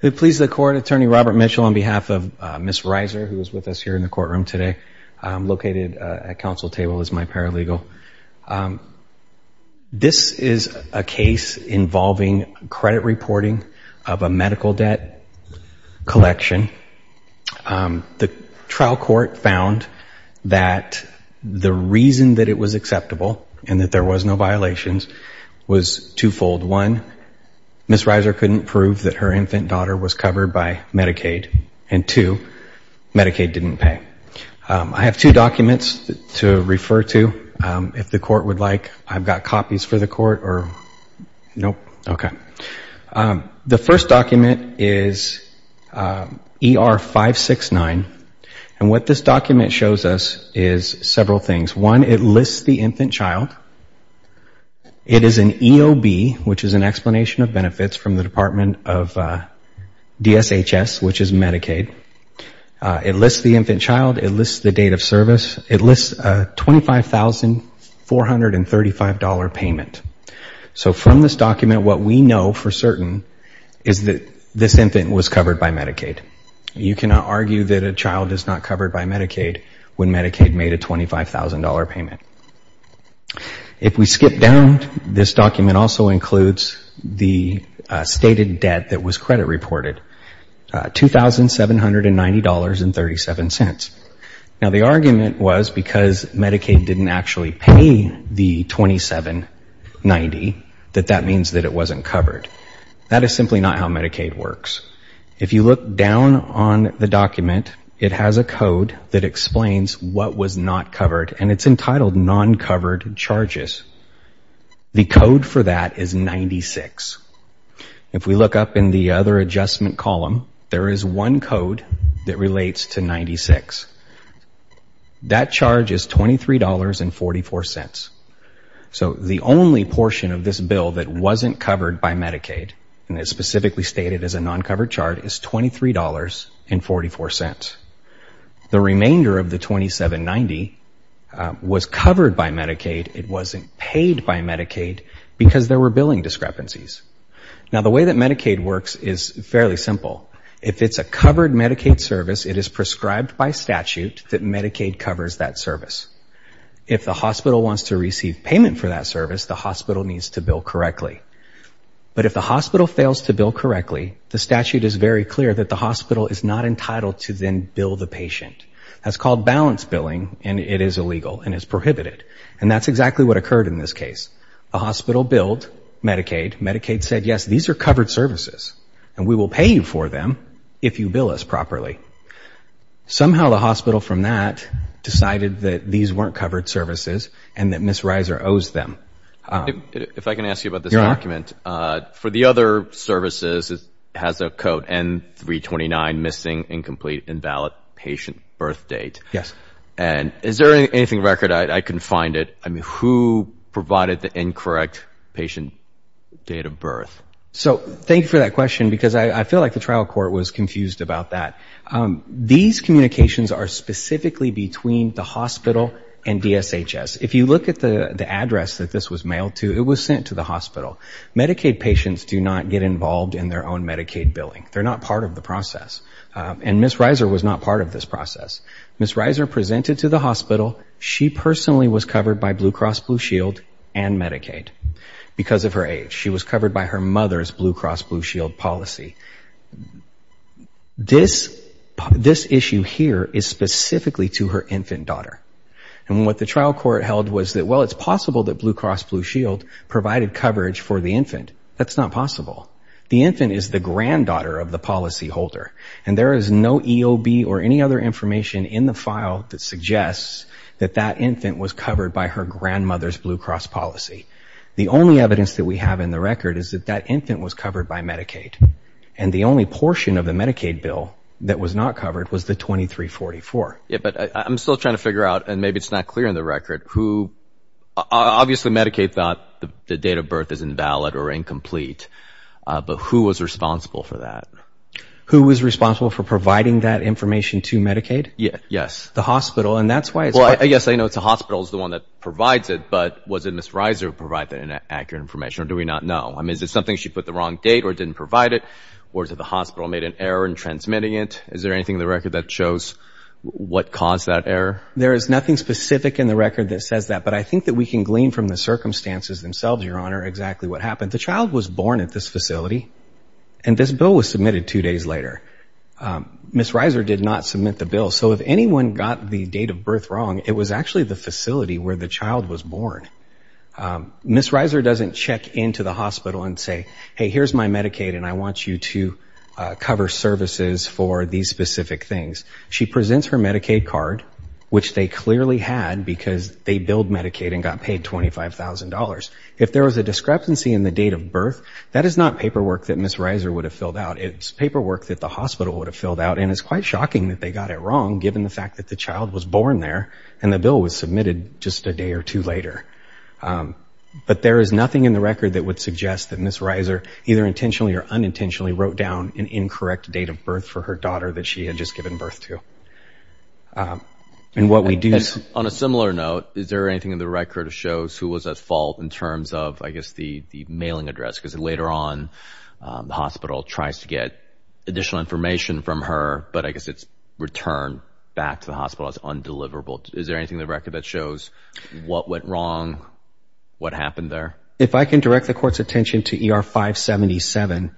Who pleases the Court, Attorney Robert Mitchell, on behalf of Ms. Riser, who is with us here in the courtroom today, located at Council Table, is my paralegal. This is a case involving credit reporting of a medical debt collection. The trial court found that the reason that it was acceptable and that there was no violations was twofold. One, Ms. Riser couldn't prove that her infant daughter was covered by Medicaid, and two, Medicaid didn't pay. I have two documents to refer to, if the Court would like. I've got copies for the Court, or no? Okay. The first document is ER 569, and what this document shows us is several things. One, it lists the infant child. It is an EOB, which is an explanation of benefits from the Department of DSHS, which is Medicaid. It lists the infant child. It lists the date of service. It lists a $25,435 payment. So from this document, what we know for certain is that this infant was covered by Medicaid. You cannot argue that a child is not covered by Medicaid when Medicaid made a $25,000 payment. If we skip down, this document also includes the stated debt that was credit reported, $2,790.37. Now, the argument was because Medicaid didn't actually pay the $2,790, that that means that it wasn't covered. That is simply not how Medicaid works. If you look down on the document, it has a code that explains what was not covered, and it's entitled non-covered charges. The code for that is 96. If we look up in the other adjustment column, there is one code that relates to 96. That charge is $23.44. So the only portion of this bill that wasn't covered by Medicaid, and it's specifically stated as a non-covered charge, is $23.44. The remainder of the $2,790 was covered by Medicaid. It wasn't paid by Medicaid because there were billing discrepancies. Now, the way that Medicaid works is fairly simple. If it's a covered Medicaid service, it is prescribed by statute that Medicaid covers that service. If the hospital wants to receive payment for that service, the hospital needs to bill correctly. But if the hospital fails to bill correctly, the statute is very clear that the hospital is not entitled to then bill the patient. That's called balance billing, and it is illegal and is prohibited. And that's exactly what occurred in this case. The hospital billed Medicaid. Medicaid said, yes, these are covered services, and we will pay you for them if you bill us properly. Somehow the hospital from that decided that these weren't covered services and that Ms. Reiser owes them. If I can ask you about this document. For the other services, it has a code N329, missing, incomplete, invalid patient birth date. Yes. And is there anything record? I couldn't find it. I mean, who provided the incorrect patient date of birth? So thank you for that question because I feel like the trial court was confused about that. These communications are specifically between the hospital and DSHS. If you look at the address that this was mailed to, it was sent to the hospital. Medicaid patients do not get involved in their own Medicaid billing. They're not part of the process. And Ms. Reiser was not part of this process. Ms. Reiser presented to the hospital. She personally was covered by Blue Cross Blue Shield and Medicaid because of her age. She was covered by her mother's Blue Cross Blue Shield policy. This issue here is specifically to her infant daughter. And what the trial court held was that, well, it's possible that Blue Cross Blue Shield provided coverage for the infant. That's not possible. The infant is the granddaughter of the policyholder. And there is no EOB or any other information in the file that suggests that that infant was covered by her grandmother's Blue Cross policy. The only evidence that we have in the record is that that infant was covered by Medicaid. And the only portion of the Medicaid bill that was not covered was the 2344. Yeah, but I'm still trying to figure out, and maybe it's not clear in the record, who – obviously Medicaid thought the date of birth is invalid or incomplete, but who was responsible for that? Who was responsible for providing that information to Medicaid? Yes. The hospital, and that's why it's – Well, I guess I know the hospital is the one that provides it, but was it Ms. Reiser who provided that accurate information, or do we not know? I mean, is it something she put the wrong date or didn't provide it, or did the hospital make an error in transmitting it? Is there anything in the record that shows what caused that error? There is nothing specific in the record that says that, but I think that we can glean from the circumstances themselves, Your Honor, exactly what happened. The child was born at this facility, and this bill was submitted two days later. Ms. Reiser did not submit the bill. So if anyone got the date of birth wrong, it was actually the facility where the child was born. Ms. Reiser doesn't check into the hospital and say, hey, here's my Medicaid, and I want you to cover services for these specific things. She presents her Medicaid card, which they clearly had, because they billed Medicaid and got paid $25,000. If there was a discrepancy in the date of birth, that is not paperwork that Ms. Reiser would have filled out. It's paperwork that the hospital would have filled out, and it's quite shocking that they got it wrong, given the fact that the child was born there and the bill was submitted just a day or two later. But there is nothing in the record that would suggest that Ms. Reiser either intentionally or unintentionally wrote down an incorrect date of birth for her daughter that she had just given birth to. On a similar note, is there anything in the record that shows who was at fault, in terms of, I guess, the mailing address? Because later on, the hospital tries to get additional information from her, but I guess it's returned back to the hospital as undeliverable. Is there anything in the record that shows what went wrong, what happened there? If I can direct the Court's attention to ER 577,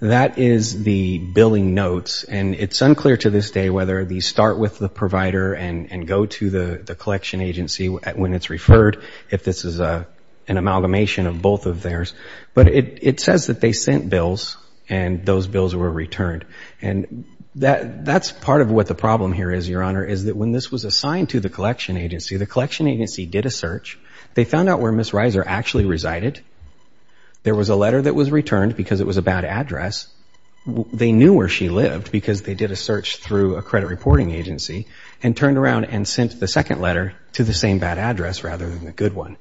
that is the billing notes, and it's unclear to this day whether these start with the provider and go to the collection agency when it's referred, if this is an amalgamation of both of theirs. But it says that they sent bills, and those bills were returned. And that's part of what the problem here is, Your Honor, is that when this was assigned to the collection agency, the collection agency did a search. They found out where Ms. Reiser actually resided. There was a letter that was returned because it was a bad address. They knew where she lived because they did a search through a credit reporting agency and turned around and sent the second letter to the same bad address rather than the good one.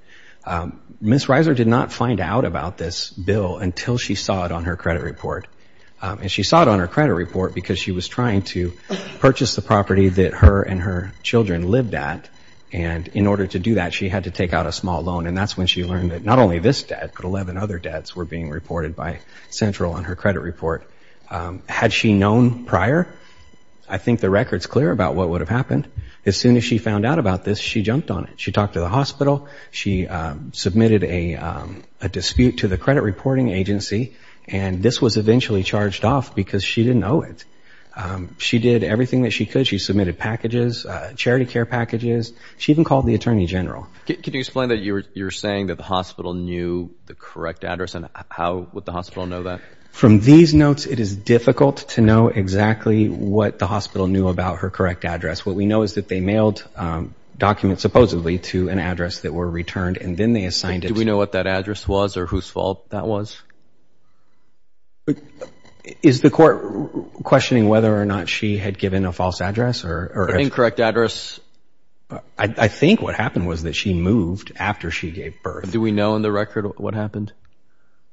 Ms. Reiser did not find out about this bill until she saw it on her credit report. And she saw it on her credit report because she was trying to purchase the property that her and her children lived at. And in order to do that, she had to take out a small loan, and that's when she learned that not only this debt but 11 other debts were being reported by Central on her credit report. Had she known prior, I think the record's clear about what would have happened. As soon as she found out about this, she jumped on it. She talked to the hospital. She submitted a dispute to the credit reporting agency. And this was eventually charged off because she didn't owe it. She did everything that she could. She submitted packages, charity care packages. She even called the attorney general. Can you explain that you're saying that the hospital knew the correct address, and how would the hospital know that? From these notes, it is difficult to know exactly what the hospital knew about her correct address. What we know is that they mailed documents supposedly to an address that were returned, Do we know what that address was or whose fault that was? Is the court questioning whether or not she had given a false address? An incorrect address. I think what happened was that she moved after she gave birth. Do we know in the record what happened?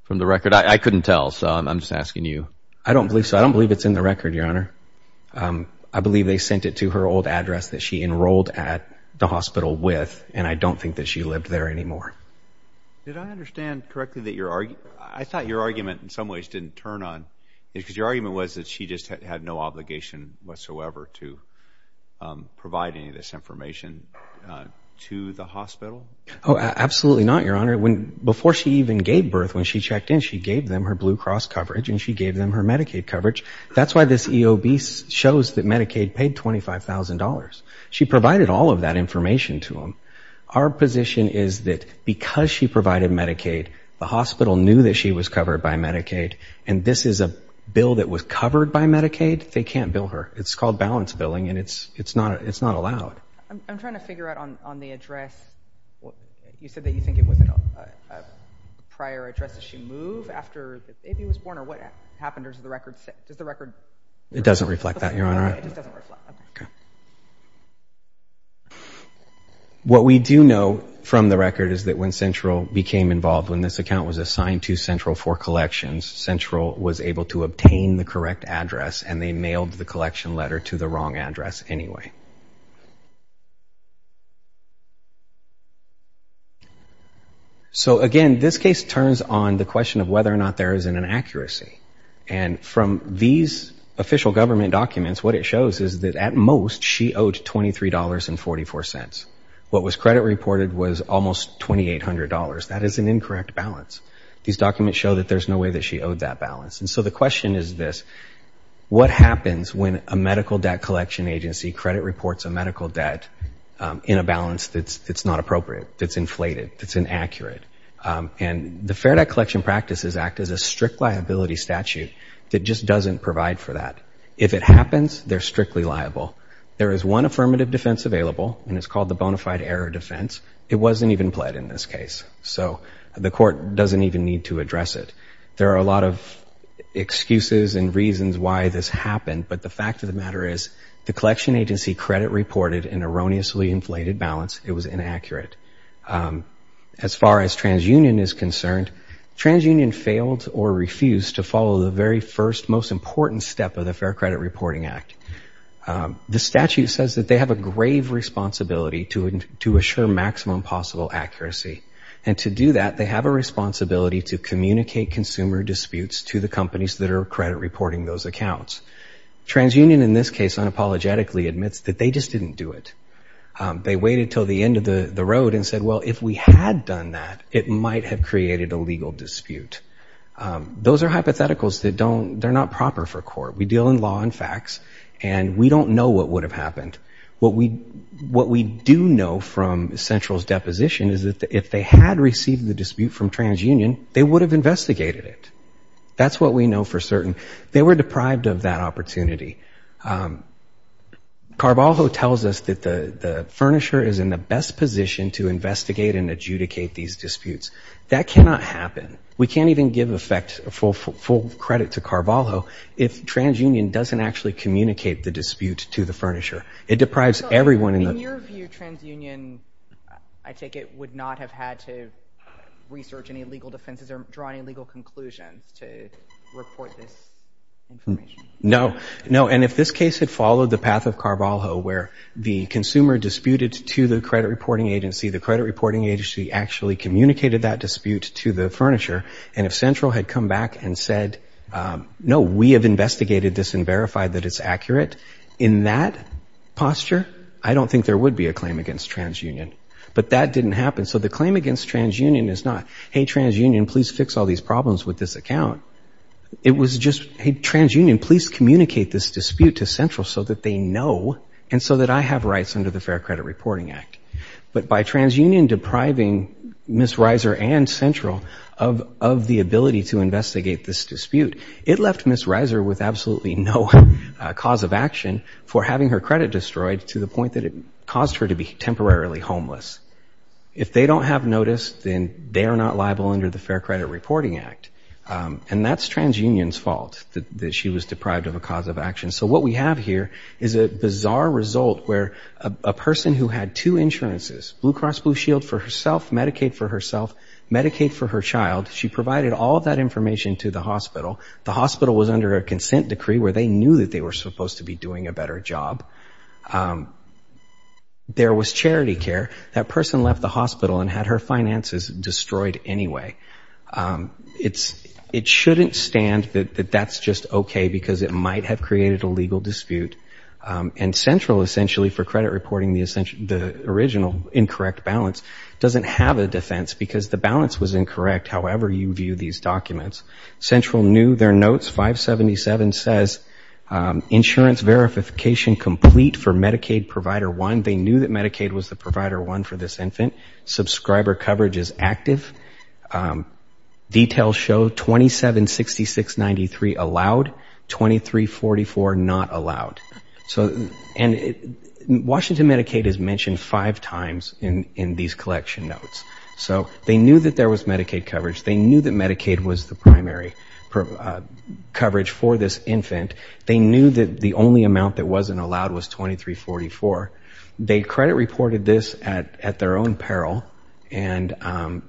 From the record? I couldn't tell, so I'm just asking you. I don't believe so. I don't believe it's in the record, Your Honor. I believe they sent it to her old address that she enrolled at the hospital with, and I don't think that she lived there anymore. Did I understand correctly that your argument? I thought your argument in some ways didn't turn on, because your argument was that she just had no obligation whatsoever to provide any of this information to the hospital? Oh, absolutely not, Your Honor. Before she even gave birth, when she checked in, she gave them her Blue Cross coverage, and she gave them her Medicaid coverage. That's why this EOB shows that Medicaid paid $25,000. She provided all of that information to them. Our position is that because she provided Medicaid, the hospital knew that she was covered by Medicaid, and this is a bill that was covered by Medicaid, they can't bill her. It's called balance billing, and it's not allowed. I'm trying to figure out on the address. You said that you think it was a prior address that she moved after the baby was born, or what happened under the record? Does the record? It doesn't reflect that, Your Honor. Okay. What we do know from the record is that when Central became involved, when this account was assigned to Central for collections, Central was able to obtain the correct address, and they mailed the collection letter to the wrong address anyway. So, again, this case turns on the question of whether or not there is an inaccuracy, and from these official government documents, what it shows is that at most she owed $23.44. What was credit reported was almost $2,800. That is an incorrect balance. These documents show that there's no way that she owed that balance. And so the question is this. What happens when a medical debt collection agency credit reports a medical debt in a balance that's not appropriate, that's inflated, that's inaccurate? And the Fair Debt Collection Practices Act is a strict liability statute that just doesn't provide for that. If it happens, they're strictly liable. There is one affirmative defense available, and it's called the bona fide error defense. It wasn't even pled in this case. So the court doesn't even need to address it. There are a lot of excuses and reasons why this happened, but the fact of the matter is the collection agency credit reported an erroneously inflated balance. It was inaccurate. As far as TransUnion is concerned, TransUnion failed or refused to follow the very first, most important step of the Fair Credit Reporting Act. The statute says that they have a grave responsibility to assure maximum possible accuracy. And to do that, they have a responsibility to communicate consumer disputes to the companies that are credit reporting those accounts. TransUnion in this case unapologetically admits that they just didn't do it. They waited until the end of the road and said, well, if we had done that, it might have created a legal dispute. Those are hypotheticals that don't, they're not proper for court. We deal in law and facts, and we don't know what would have happened. What we do know from Central's deposition is that if they had received the dispute from TransUnion, they would have investigated it. That's what we know for certain. They were deprived of that opportunity. Carvalho tells us that the furnisher is in the best position to investigate and adjudicate these disputes. That cannot happen. We can't even give effect, full credit to Carvalho, if TransUnion doesn't actually communicate the dispute to the furnisher. It deprives everyone in the- So, in your view, TransUnion, I take it, would not have had to research any legal defenses or draw any legal conclusions to report this information? No, no. And if this case had followed the path of Carvalho, where the consumer disputed to the credit reporting agency, the credit reporting agency actually communicated that dispute to the furnisher, and if Central had come back and said, no, we have investigated this and verified that it's accurate, in that posture, I don't think there would be a claim against TransUnion. But that didn't happen. So the claim against TransUnion is not, hey, TransUnion, please fix all these problems with this account. It was just, hey, TransUnion, please communicate this dispute to Central so that they know and so that I have rights under the Fair Credit Reporting Act. But by TransUnion depriving Ms. Reiser and Central of the ability to investigate this dispute, it left Ms. Reiser with absolutely no cause of action for having her credit destroyed to the point that it caused her to be temporarily homeless. If they don't have notice, then they are not liable under the Fair Credit Reporting Act. And that's TransUnion's fault that she was deprived of a cause of action. So what we have here is a bizarre result where a person who had two insurances, Blue Cross Blue Shield for herself, Medicaid for herself, Medicaid for her child, she provided all of that information to the hospital. The hospital was under a consent decree where they knew that they were supposed to be doing a better job. There was charity care. That person left the hospital and had her finances destroyed anyway. It shouldn't stand that that's just okay because it might have created a legal dispute. And Central, essentially, for credit reporting the original incorrect balance, doesn't have a defense because the balance was incorrect, however you view these documents. Central knew their notes. 577 says insurance verification complete for Medicaid provider one. They knew that Medicaid was the provider one for this infant. Subscriber coverage is active. Details show 276693 allowed, 2344 not allowed. And Washington Medicaid is mentioned five times in these collection notes. So they knew that there was Medicaid coverage. They knew that Medicaid was the primary coverage for this infant. They knew that the only amount that wasn't allowed was 2344. They credit reported this at their own peril, and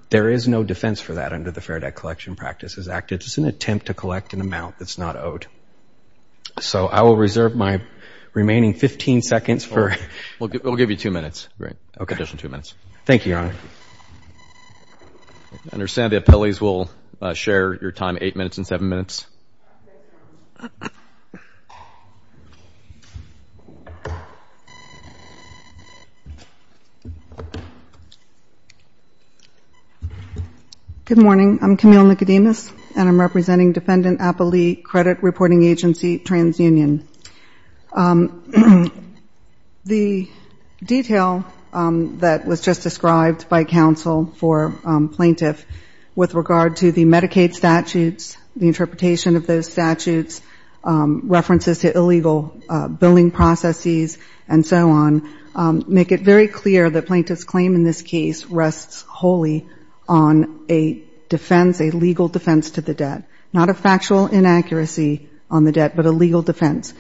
there is no defense for that under the Fair Debt Collection Practices Act. It's an attempt to collect an amount that's not owed. So I will reserve my remaining 15 seconds for... We'll give you two minutes. Okay. Additional two minutes. Thank you, Your Honor. I understand the appellees will share your time, eight minutes and seven minutes. Good morning. I'm Camille Nicodemus, and I'm representing Defendant Appelee Credit Reporting Agency, TransUnion. The detail that was just described by counsel for plaintiff with regard to the Medicaid statutes, the interpretation of those statutes, references to illegal billing processes, and so on, make it very clear that plaintiff's claim in this case rests wholly on a defense, a legal defense to the debt, not a factual inaccuracy on the debt, but a legal defense.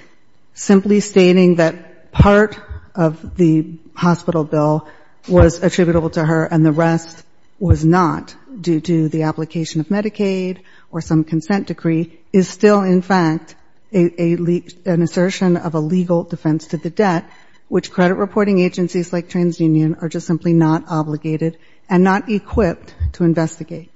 Simply stating that part of the hospital bill was attributable to her and the rest was not due to the application of Medicaid or some consent decree is still, in fact, an assertion of a legal defense to the debt, which credit reporting agencies like TransUnion are just simply not obligated and not equipped to investigate.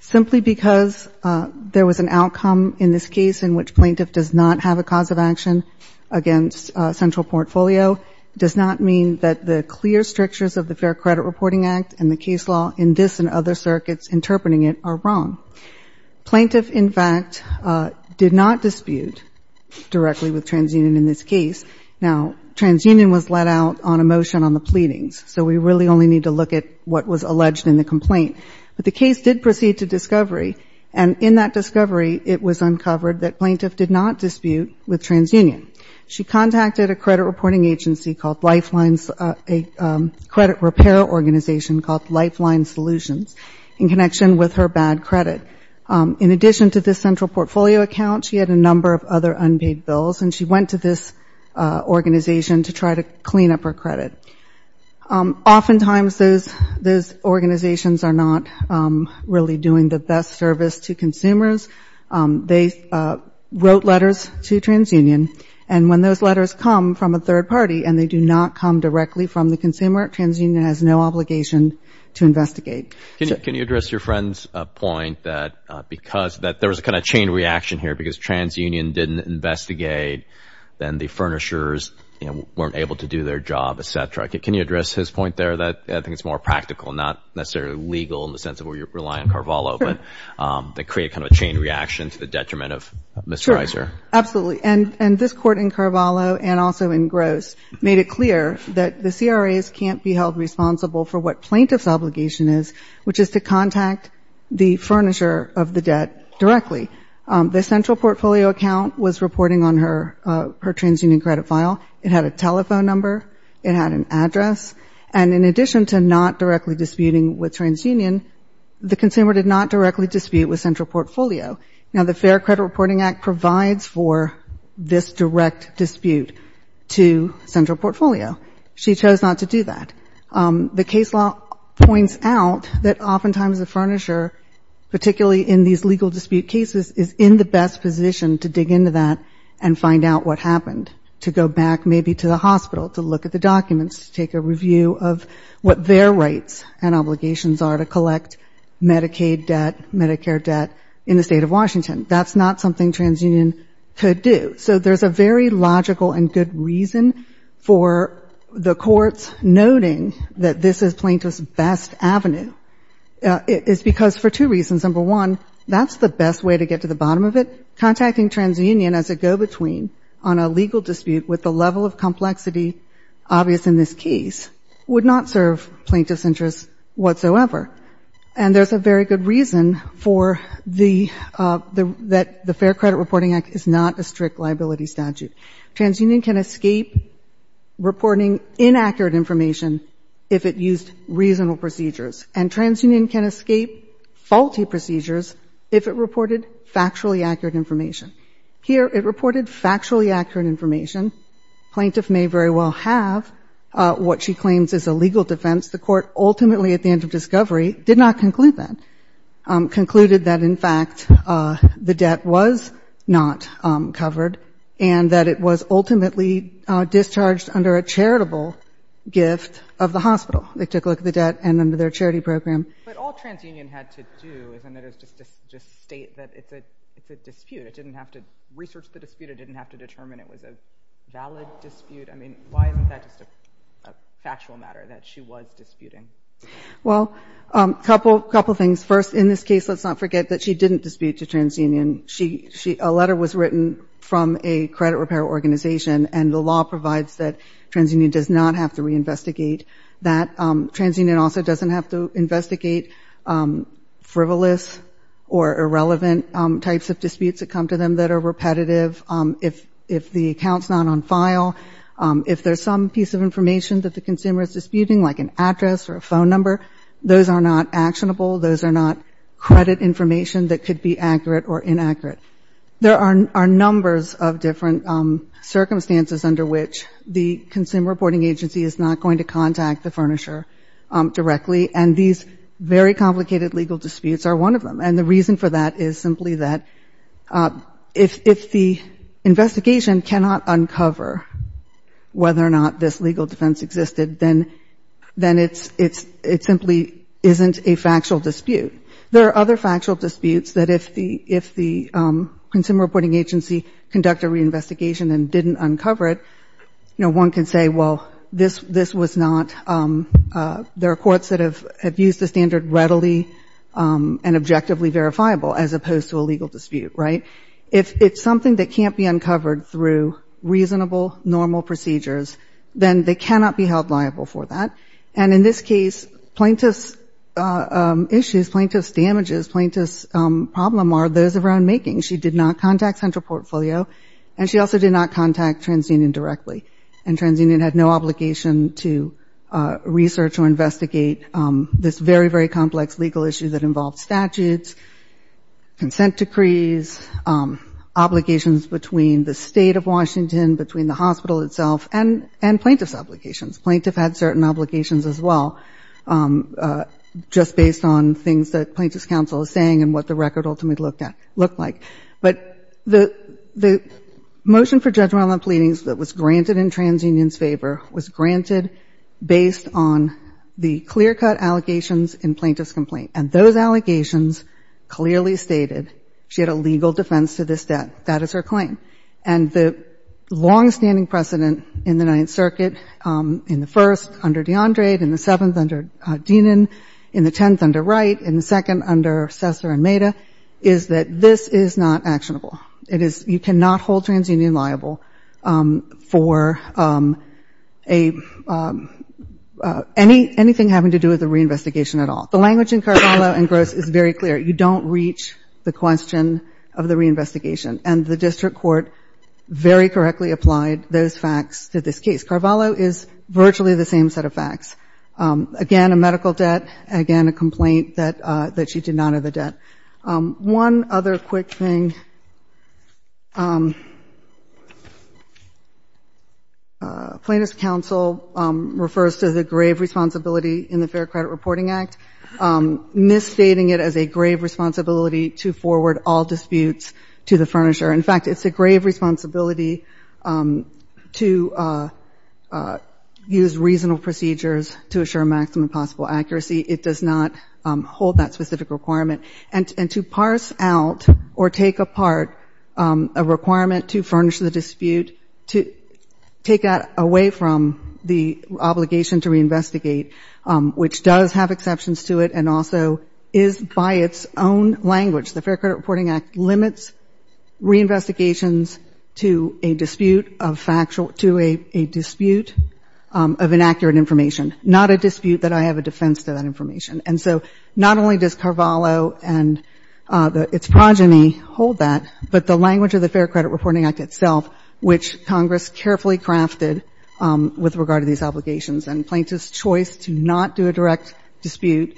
Simply because there was an outcome in this case in which plaintiff does not have a cause of action against central portfolio does not mean that the clear strictures of the Fair Credit Reporting Act and the case law in this and other circuits interpreting it are wrong. Plaintiff, in fact, did not dispute directly with TransUnion in this case. Now, TransUnion was let out on a motion on the pleadings, so we really only need to look at what was alleged in the complaint. But the case did proceed to discovery, and in that discovery it was uncovered that plaintiff did not dispute with TransUnion. She contacted a credit reporting agency called Lifelines, a credit repair organization called Lifeline Solutions, in connection with her bad credit. In addition to this central portfolio account, she had a number of other unpaid bills, and she went to this organization to try to clean up her credit. Oftentimes those organizations are not really doing the best service to consumers. They wrote letters to TransUnion, and when those letters come from a third party and they do not come directly from the consumer, TransUnion has no obligation to investigate. Can you address your friend's point that there was a kind of chain reaction here because TransUnion didn't investigate, and the furnishers weren't able to do their job, et cetera? Can you address his point there? I think it's more practical, not necessarily legal in the sense of where you're relying on Carvalho, but they create kind of a chain reaction to the detriment of Ms. Reiser. Sure, absolutely. And this court in Carvalho and also in Gross made it clear that the CRAs can't be held responsible for what plaintiff's obligation is, which is to contact the furnisher of the debt directly. The central portfolio account was reporting on her TransUnion credit file. It had a telephone number. It had an address. And in addition to not directly disputing with TransUnion, the consumer did not directly dispute with central portfolio. Now, the Fair Credit Reporting Act provides for this direct dispute to central portfolio. She chose not to do that. The case law points out that oftentimes the furnisher, particularly in these legal dispute cases, is in the best position to dig into that and find out what happened, to go back maybe to the hospital to look at the documents, to take a review of what their rights and obligations are to collect Medicaid debt, Medicare debt in the State of Washington. That's not something TransUnion could do. So there's a very logical and good reason for the courts noting that this is plaintiff's best avenue. It's because for two reasons. Number one, that's the best way to get to the bottom of it. Contacting TransUnion as a go-between on a legal dispute with the level of complexity obvious in this case would not serve plaintiff's interests whatsoever. And there's a very good reason for the Fair Credit Reporting Act is not a strict liability statute. TransUnion can escape reporting inaccurate information if it used reasonable procedures. And TransUnion can escape faulty procedures if it reported factually accurate information. Here it reported factually accurate information. Plaintiff may very well have what she claims is a legal defense. The court ultimately at the end of discovery did not conclude that, concluded that in fact the debt was not covered and that it was ultimately discharged under a charitable gift of the hospital. They took a look at the debt and under their charity program. But all TransUnion had to do is just state that it's a dispute. It didn't have to research the dispute. It didn't have to determine it was a valid dispute. I mean, why isn't that just a factual matter that she was disputing? Well, a couple things. First, in this case let's not forget that she didn't dispute to TransUnion. A letter was written from a credit repair organization and the law provides that TransUnion does not have to reinvestigate that. TransUnion also doesn't have to investigate frivolous or irrelevant types of disputes that come to them that are repetitive. If the account's not on file, if there's some piece of information that the consumer is disputing, like an address or a phone number, those are not actionable. Those are not credit information that could be accurate or inaccurate. There are numbers of different circumstances under which the consumer reporting agency is not going to contact the furnisher directly, and these very complicated legal disputes are one of them. And the reason for that is simply that if the investigation cannot uncover whether or not this legal defense existed, then it simply isn't a factual dispute. There are other factual disputes that if the consumer reporting agency conducted a reinvestigation and didn't uncover it, you know, one can say, well, this was not – there are courts that have used the standard readily and objectively verifiable as opposed to a legal dispute, right? If it's something that can't be uncovered through reasonable, normal procedures, then they cannot be held liable for that. And in this case, plaintiff's issues, plaintiff's damages, plaintiff's problem are those of her own making. She did not contact Central Portfolio, and she also did not contact TransUnion directly. And TransUnion had no obligation to research or investigate this very, very complex legal issue that involved statutes, consent decrees, obligations between the State of Washington, between the hospital itself, and plaintiff's obligations. Plaintiff had certain obligations as well, just based on things that Plaintiff's counsel is saying and what the record ultimately looked at – looked like. But the motion for judgment on the pleadings that was granted in TransUnion's favor was granted based on the clear-cut allegations in plaintiff's complaint. And those allegations clearly stated she had a legal defense to this debt. That is her claim. And the long-standing precedent in the Ninth Circuit, in the First under DeAndre, in the Seventh under Deenan, in the Tenth under Wright, in the Second under Sessler and Maida, is that this is not actionable. It is – you cannot hold TransUnion liable for a – any – anything having to do with the reinvestigation at all. The language in Carballo and Gross is very clear. You don't reach the question of the reinvestigation. And the district court very correctly applied those facts to this case. Carballo is virtually the same set of facts. Again, a medical debt. Again, a complaint that she did not have a debt. One other quick thing, plaintiff's counsel refers to the grave responsibility in the Fair Credit Reporting Act, misstating it as a grave responsibility to forward all disputes to the furnisher. In fact, it's a grave responsibility to use reasonable procedures to assure maximum possible accuracy. It does not hold that specific requirement. And to parse out or take apart a requirement to furnish the dispute, to take that away from the obligation to reinvestigate, which does have exceptions to it and also is by its own language – the Fair Credit Reporting Act limits reinvestigations to a dispute of factual – to a dispute of inaccurate information, not a dispute that I have a defense to that information. And so not only does Carballo and its progeny hold that, but the language of the Fair Credit Reporting Act itself, which Congress carefully crafted with regard to these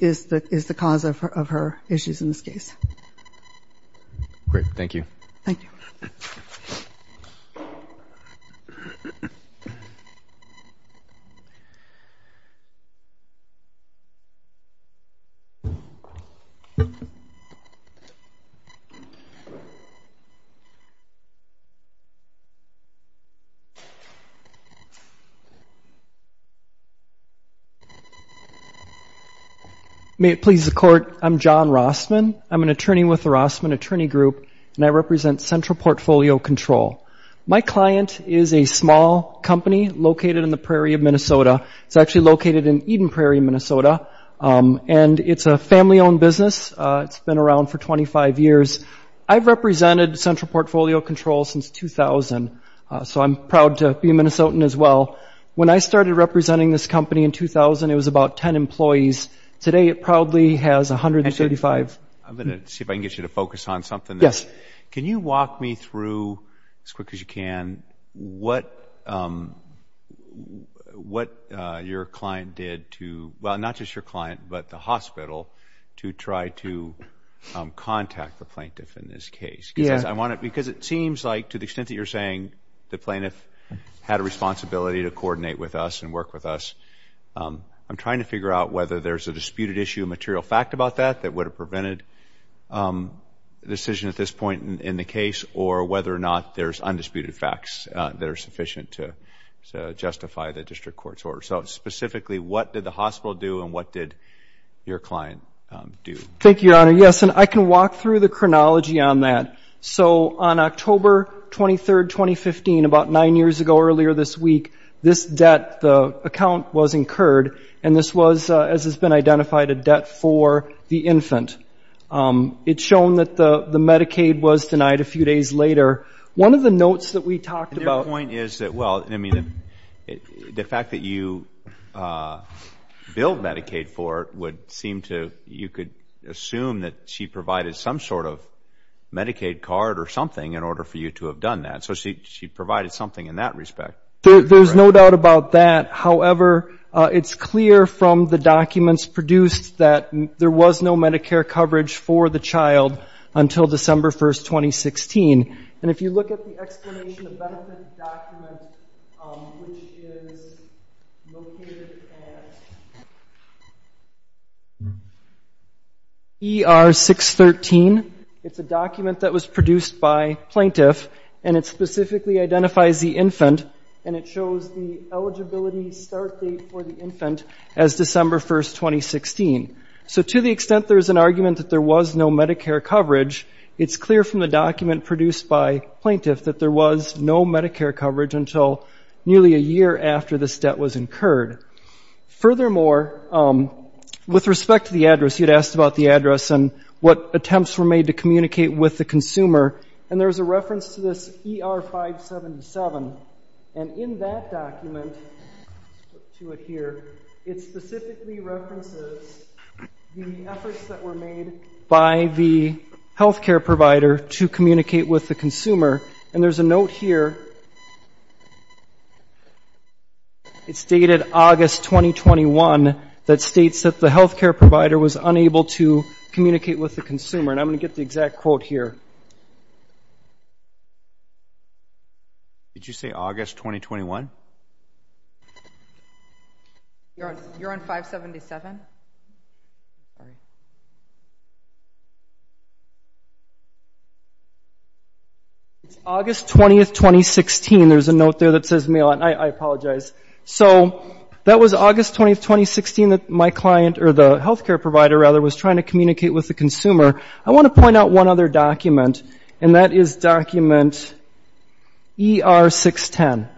is the cause of her issues in this case. Great. Thank you. Thank you. May it please the Court, I'm John Rossman. I'm an attorney with the Rossman Attorney Group, and I represent Central Portfolio Control. My client is a small company located in the Prairie of Minnesota. It's actually located in Eden Prairie, Minnesota, and it's a family-owned business. It's been around for 25 years. I've represented Central Portfolio Control since 2000, so I'm proud to be a Minnesotan as well. When I started representing this company in 2000, it was about 10 employees. Today, it probably has 135. I'm going to see if I can get you to focus on something. Can you walk me through, as quick as you can, what your client did to – well, not just your client, but the hospital – to try to contact the plaintiff in this case? Yeah. Because I want to – because it seems like, to the extent that you're saying the plaintiff had a responsibility to coordinate with us and work with us, I'm trying to figure out whether there's a disputed issue of material fact about that that would have prevented a decision at this point in the case, or whether or not there's undisputed facts that are sufficient to justify the district court's order. So, specifically, what did the hospital do, and what did your client do? Thank you, Your Honor. Yes, and I can walk through the chronology on that. So, on October 23, 2015, about nine years ago, earlier this week, this debt – the account was incurred, and this was, as has been identified, a debt for the infant. It's shown that the Medicaid was denied a few days later. One of the notes that we talked about – Their point is that – well, I mean, the fact that you billed Medicaid for it would seem to – you could assume that she provided some sort of Medicaid card or something in order for you to have done that. So, she provided something in that respect. There's no doubt about that. However, it's clear from the documents produced that there was no Medicare coverage for the child until December 1, 2016. And if you look at the Explanation of Benefit document, which is located at ER 613, it's a document that was produced by plaintiff, and it specifically identifies the infant, and it shows the eligibility start date for the infant as December 1, 2016. So, to the extent there's an argument that there was no Medicare coverage, it's clear from the document produced by plaintiff that there was no Medicare coverage until nearly a year after this debt was incurred. Furthermore, with respect to the address – you'd asked about the address and what attempts were made to communicate with the consumer, and there's a reference to this ER 577. And in that document – let's put it here – it specifically references the efforts that were made by the health care provider to communicate with the consumer. And there's a note here – it's dated August 2021 – that states that the health care provider was unable to communicate with the consumer. And I'm going to get the exact quote here. Did you say August 2021? You're on 577? It's August 20, 2016. There's a note there that says – I apologize. So, that was August 20, 2016 that my client – or the health care provider, rather – was trying to communicate with the consumer. I want to point out one other document, and that is document ER 610.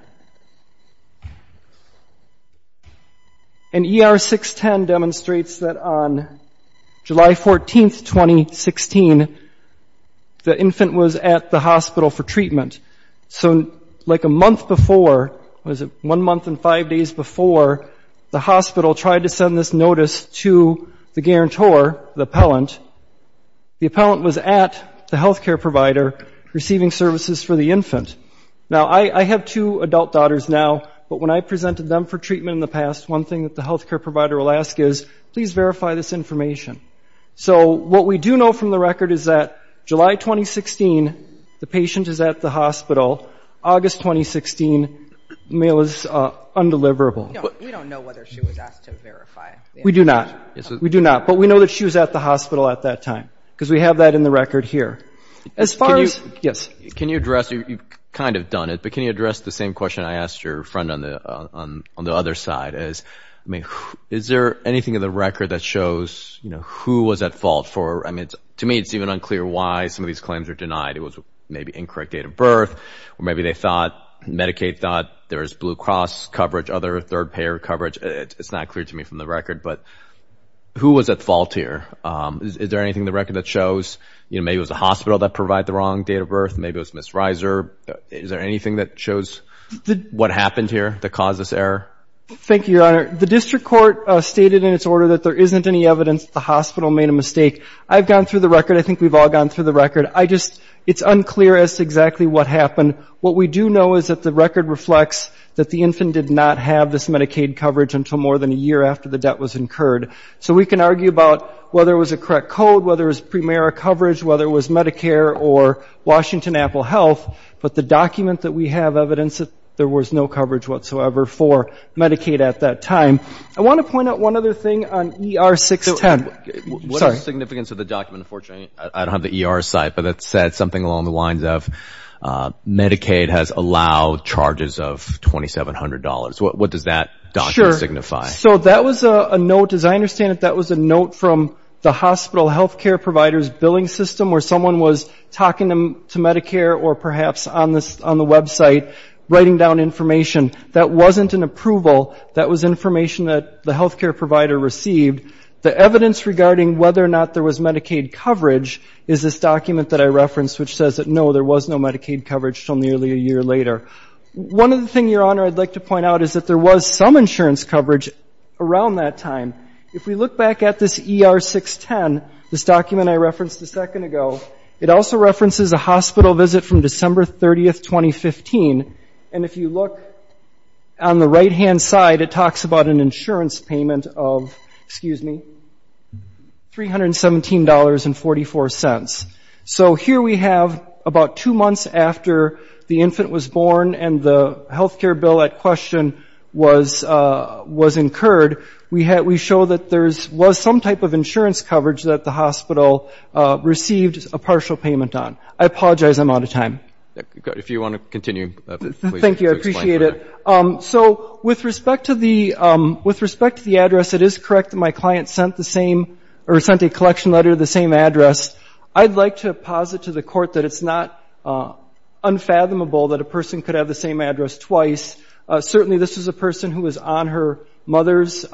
And ER 610 demonstrates that on July 14, 2016, the infant was at the hospital for treatment. So, like a month before – was it one month and five days before – the hospital tried to send this notice to the guarantor, the appellant. The appellant was at the health care provider receiving services for the infant. Now, I have two adult daughters now, but when I presented them for treatment in the past, one thing that the health care provider will ask is, please verify this information. So, what we do know from the record is that July 2016, the patient is at the hospital. August 2016, the mail is undeliverable. We don't know whether she was asked to verify. We do not. We do not, but we know that she was at the hospital at that time because we have that in the record here. As far as – yes. Can you address – you've kind of done it, but can you address the same question I asked your friend on the other side? Is there anything in the record that shows who was at fault for – I mean, to me, it's even unclear why some of these claims are denied. It was maybe incorrect date of birth, or maybe they thought – Medicaid thought there was Blue Cross coverage, other third-payer coverage. It's not clear to me from the record, but who was at fault here? Is there anything in the record that shows – maybe it was the hospital that provided the wrong date of birth, maybe it was Ms. Reiser. Is there anything that shows what happened here that caused this error? Thank you, Your Honor. The district court stated in its order that there isn't any evidence the hospital made a mistake. I've gone through the record. I think we've all gone through the record. I just – it's unclear as to exactly what happened. What we do know is that the record reflects that the infant did not have this Medicaid coverage until more than a year after the debt was incurred. So we can argue about whether it was a correct code, whether it was pre-MARA coverage, whether it was Medicare or Washington Apple Health, but the document that we have evidence that there was no coverage whatsoever for Medicaid at that time. I want to point out one other thing on ER 610. What is the significance of the document? Unfortunately, I don't have the ER site, but it said something along the lines of, Medicaid has allowed charges of $2,700. What does that document signify? So that was a note, as I understand it, that was a note from the hospital health care provider's billing system where someone was talking to Medicare or perhaps on the website writing down information. That wasn't an approval. That was information that the health care provider received. The evidence regarding whether or not there was Medicaid coverage is this document that I referenced, which says that, no, there was no Medicaid coverage until nearly a year later. One other thing, Your Honor, I'd like to point out is that there was some insurance coverage around that time. If we look back at this ER 610, this document I referenced a second ago, it also references a hospital visit from December 30, 2015. And if you look on the right-hand side, it talks about an insurance payment of, excuse me, $317.44. So here we have about two months after the infant was born and the health care bill at question was incurred, we show that there was some type of insurance coverage that the hospital received a partial payment on. I apologize, I'm out of time. If you want to continue, please. Thank you, I appreciate it. So with respect to the address, it is correct that my client sent the same or sent a collection letter the same address. I'd like to posit to the Court that it's not unfathomable that a person could have the same address twice. Certainly this was a person who was on her mother's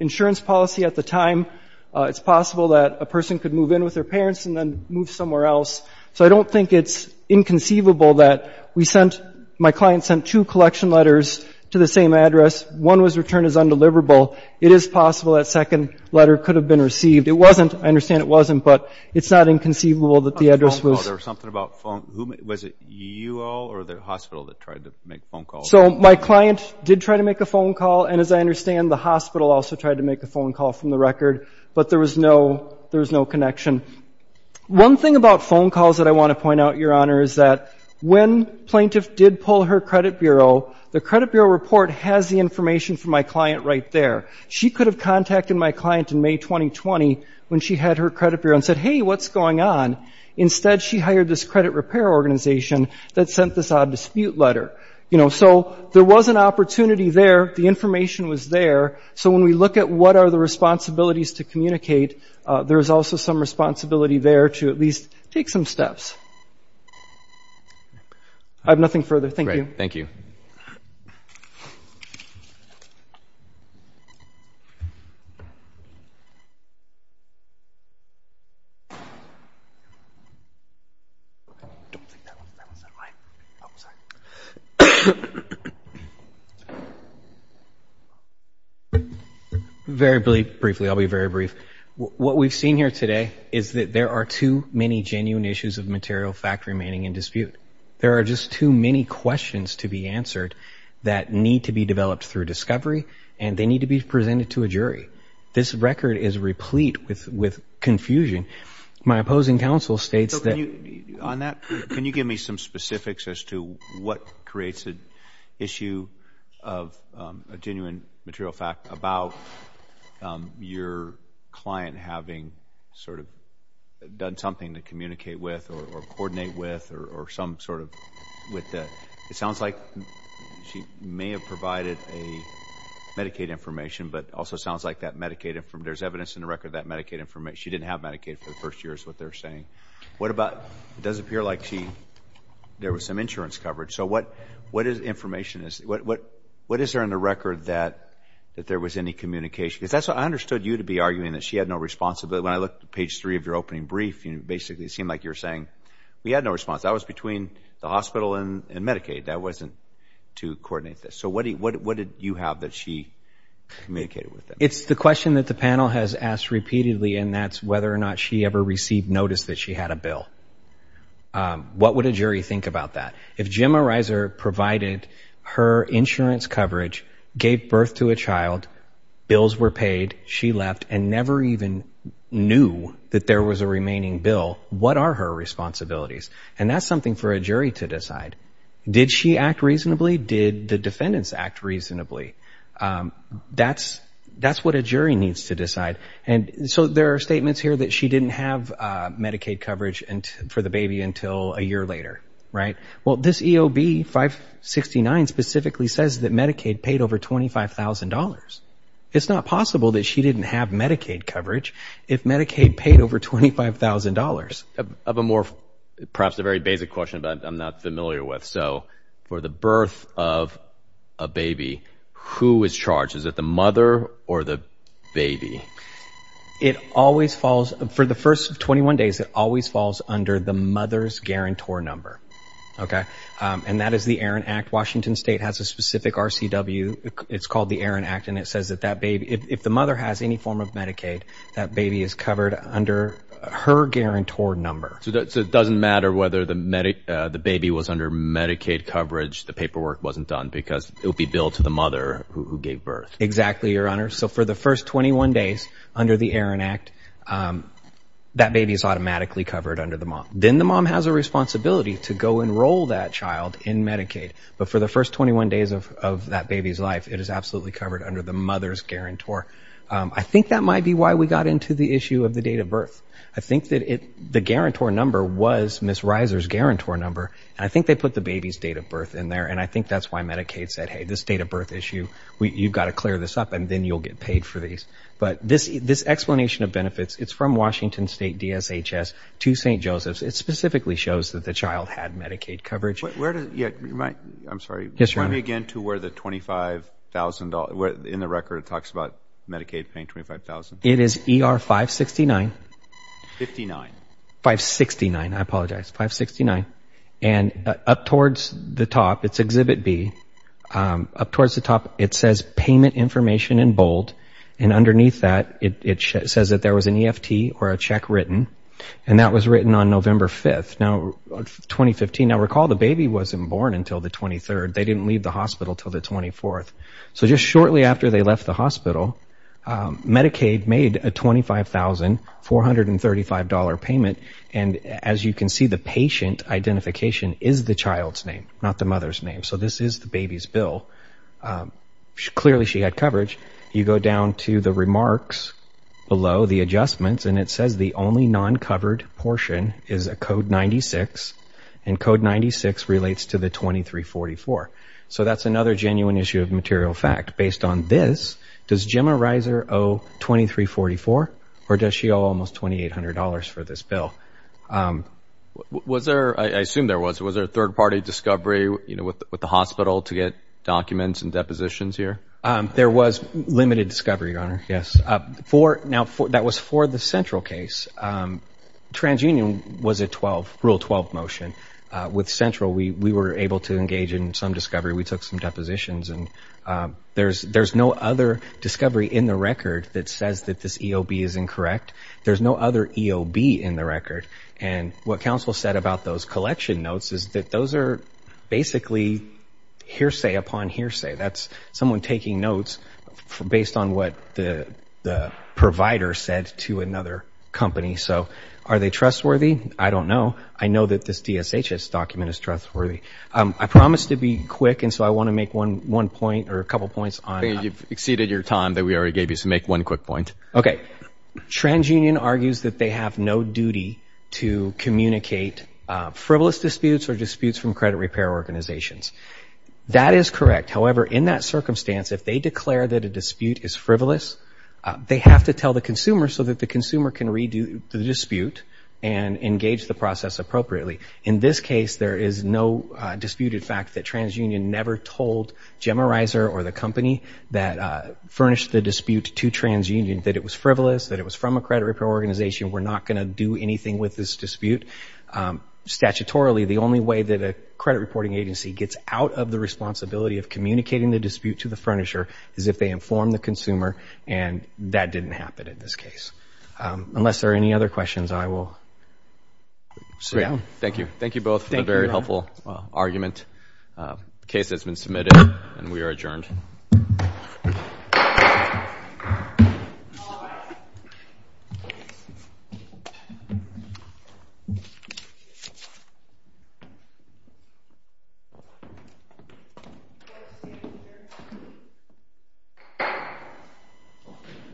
insurance policy at the time. It's possible that a person could move in with their parents and then move somewhere else. So I don't think it's inconceivable that we sent, my client sent two collection letters to the same address. One was returned as undeliverable. It is possible that second letter could have been received. It wasn't, I understand it wasn't, but it's not inconceivable that the address was. There was something about phone, was it you all or the hospital that tried to make phone calls? So my client did try to make a phone call, and as I understand the hospital also tried to make a phone call from the record, but there was no connection. One thing about phone calls that I want to point out, Your Honor, is that when plaintiff did pull her credit bureau, the credit bureau report has the information from my client right there. She could have contacted my client in May 2020 when she had her credit bureau and said, hey, what's going on? Instead she hired this credit repair organization that sent this odd dispute letter. You know, so there was an opportunity there. The information was there. So when we look at what are the responsibilities to communicate, there is also some responsibility there to at least take some steps. I have nothing further. Thank you. Thank you. Very briefly, I'll be very brief. What we've seen here today is that there are too many genuine issues of material fact remaining in dispute. There are just too many questions to be answered that need to be developed through discovery, and they need to be presented to a jury. This record is replete with confusion. My opposing counsel states that. Can you give me some specifics as to what creates an issue of a genuine material fact about your client having sort of done something to communicate with or coordinate with or some sort of with that? It sounds like she may have provided a Medicaid information, but it also sounds like that Medicaid information, there's evidence in the record that Medicaid information, she didn't have Medicaid for the first year is what they're saying. What about, it does appear like she, there was some insurance coverage. So what is information, what is there in the record that there was any communication? Because I understood you to be arguing that she had no responsibility. When I looked at page three of your opening brief, basically it seemed like you were saying we had no response. That was between the hospital and Medicaid. That wasn't to coordinate this. So what did you have that she communicated with them? It's the question that the panel has asked repeatedly, and that's whether or not she ever received notice that she had a bill. What would a jury think about that? If Jim Arizer provided her insurance coverage, gave birth to a child, bills were paid, she left and never even knew that there was a remaining bill, what are her responsibilities? And that's something for a jury to decide. Did she act reasonably? Did the defendants act reasonably? That's what a jury needs to decide. So there are statements here that she didn't have Medicaid coverage for the baby until a year later. Well, this EOB 569 specifically says that Medicaid paid over $25,000. It's not possible that she didn't have Medicaid coverage if Medicaid paid over $25,000. Perhaps a very basic question that I'm not familiar with. So for the birth of a baby, who is charged? Is it the mother or the baby? For the first 21 days, it always falls under the mother's guarantor number. And that is the Erin Act. Washington State has a specific RCW. It's called the Erin Act, and it says that if the mother has any form of Medicaid, that baby is covered under her guarantor number. So it doesn't matter whether the baby was under Medicaid coverage, the paperwork wasn't done, because it would be billed to the mother who gave birth. Exactly, Your Honor. So for the first 21 days under the Erin Act, that baby is automatically covered under the mom. Then the mom has a responsibility to go enroll that child in Medicaid. But for the first 21 days of that baby's life, it is absolutely covered under the mother's guarantor. I think that might be why we got into the issue of the date of birth. I think that the guarantor number was Ms. Reiser's guarantor number, and I think they put the baby's date of birth in there, and I think that's why Medicaid said, hey, this date of birth issue, you've got to clear this up, and then you'll get paid for these. But this explanation of benefits, it's from Washington State DSHS to St. Joseph's. It specifically shows that the child had Medicaid coverage. I'm sorry. Yes, Your Honor. Point me again to where the $25,000, in the record it talks about Medicaid paying $25,000. It is ER 569. 59. 569, I apologize, 569. And up towards the top, it's Exhibit B, up towards the top it says payment information in bold, and underneath that it says that there was an EFT or a check written, and that was written on November 5th, 2015. Now, recall the baby wasn't born until the 23rd. They didn't leave the hospital until the 24th. So just shortly after they left the hospital, Medicaid made a $25,435 payment, and as you can see, the patient identification is the child's name, not the mother's name. So this is the baby's bill. Clearly she had coverage. You go down to the remarks below, the adjustments, and it says the only non-covered portion is a Code 96, and Code 96 relates to the 2344. So that's another genuine issue of material fact. Based on this, does Gemma Reiser owe 2344, or does she owe almost $2,800 for this bill? I assume there was. Was there a third-party discovery with the hospital to get documents and depositions here? There was limited discovery, Your Honor, yes. Now, that was for the Central case. TransUnion was a Rule 12 motion. With Central, we were able to engage in some discovery. We took some depositions, and there's no other discovery in the record that says that this EOB is incorrect. There's no other EOB in the record, and what counsel said about those collection notes is that those are basically hearsay upon hearsay. That's someone taking notes based on what the provider said to another company. So are they trustworthy? I don't know. I know that this DSHS document is trustworthy. I promised to be quick, and so I want to make one point or a couple points on it. You've exceeded your time that we already gave you, so make one quick point. Okay. TransUnion argues that they have no duty to communicate frivolous disputes or disputes from credit repair organizations. That is correct. However, in that circumstance, if they declare that a dispute is frivolous, they have to tell the consumer so that the consumer can redo the dispute and engage the process appropriately. In this case, there is no disputed fact that TransUnion never told Gemma Reiser or the company that furnished the dispute to TransUnion that it was frivolous, that it was from a credit repair organization. We're not going to do anything with this dispute. Statutorily, the only way that a credit reporting agency gets out of the responsibility of communicating the dispute to the furnisher is if they inform the consumer, and that didn't happen in this case. Unless there are any other questions, I will sit down. Thank you. Thank you both for a very helpful argument. The case has been submitted, and we are adjourned. Thank you.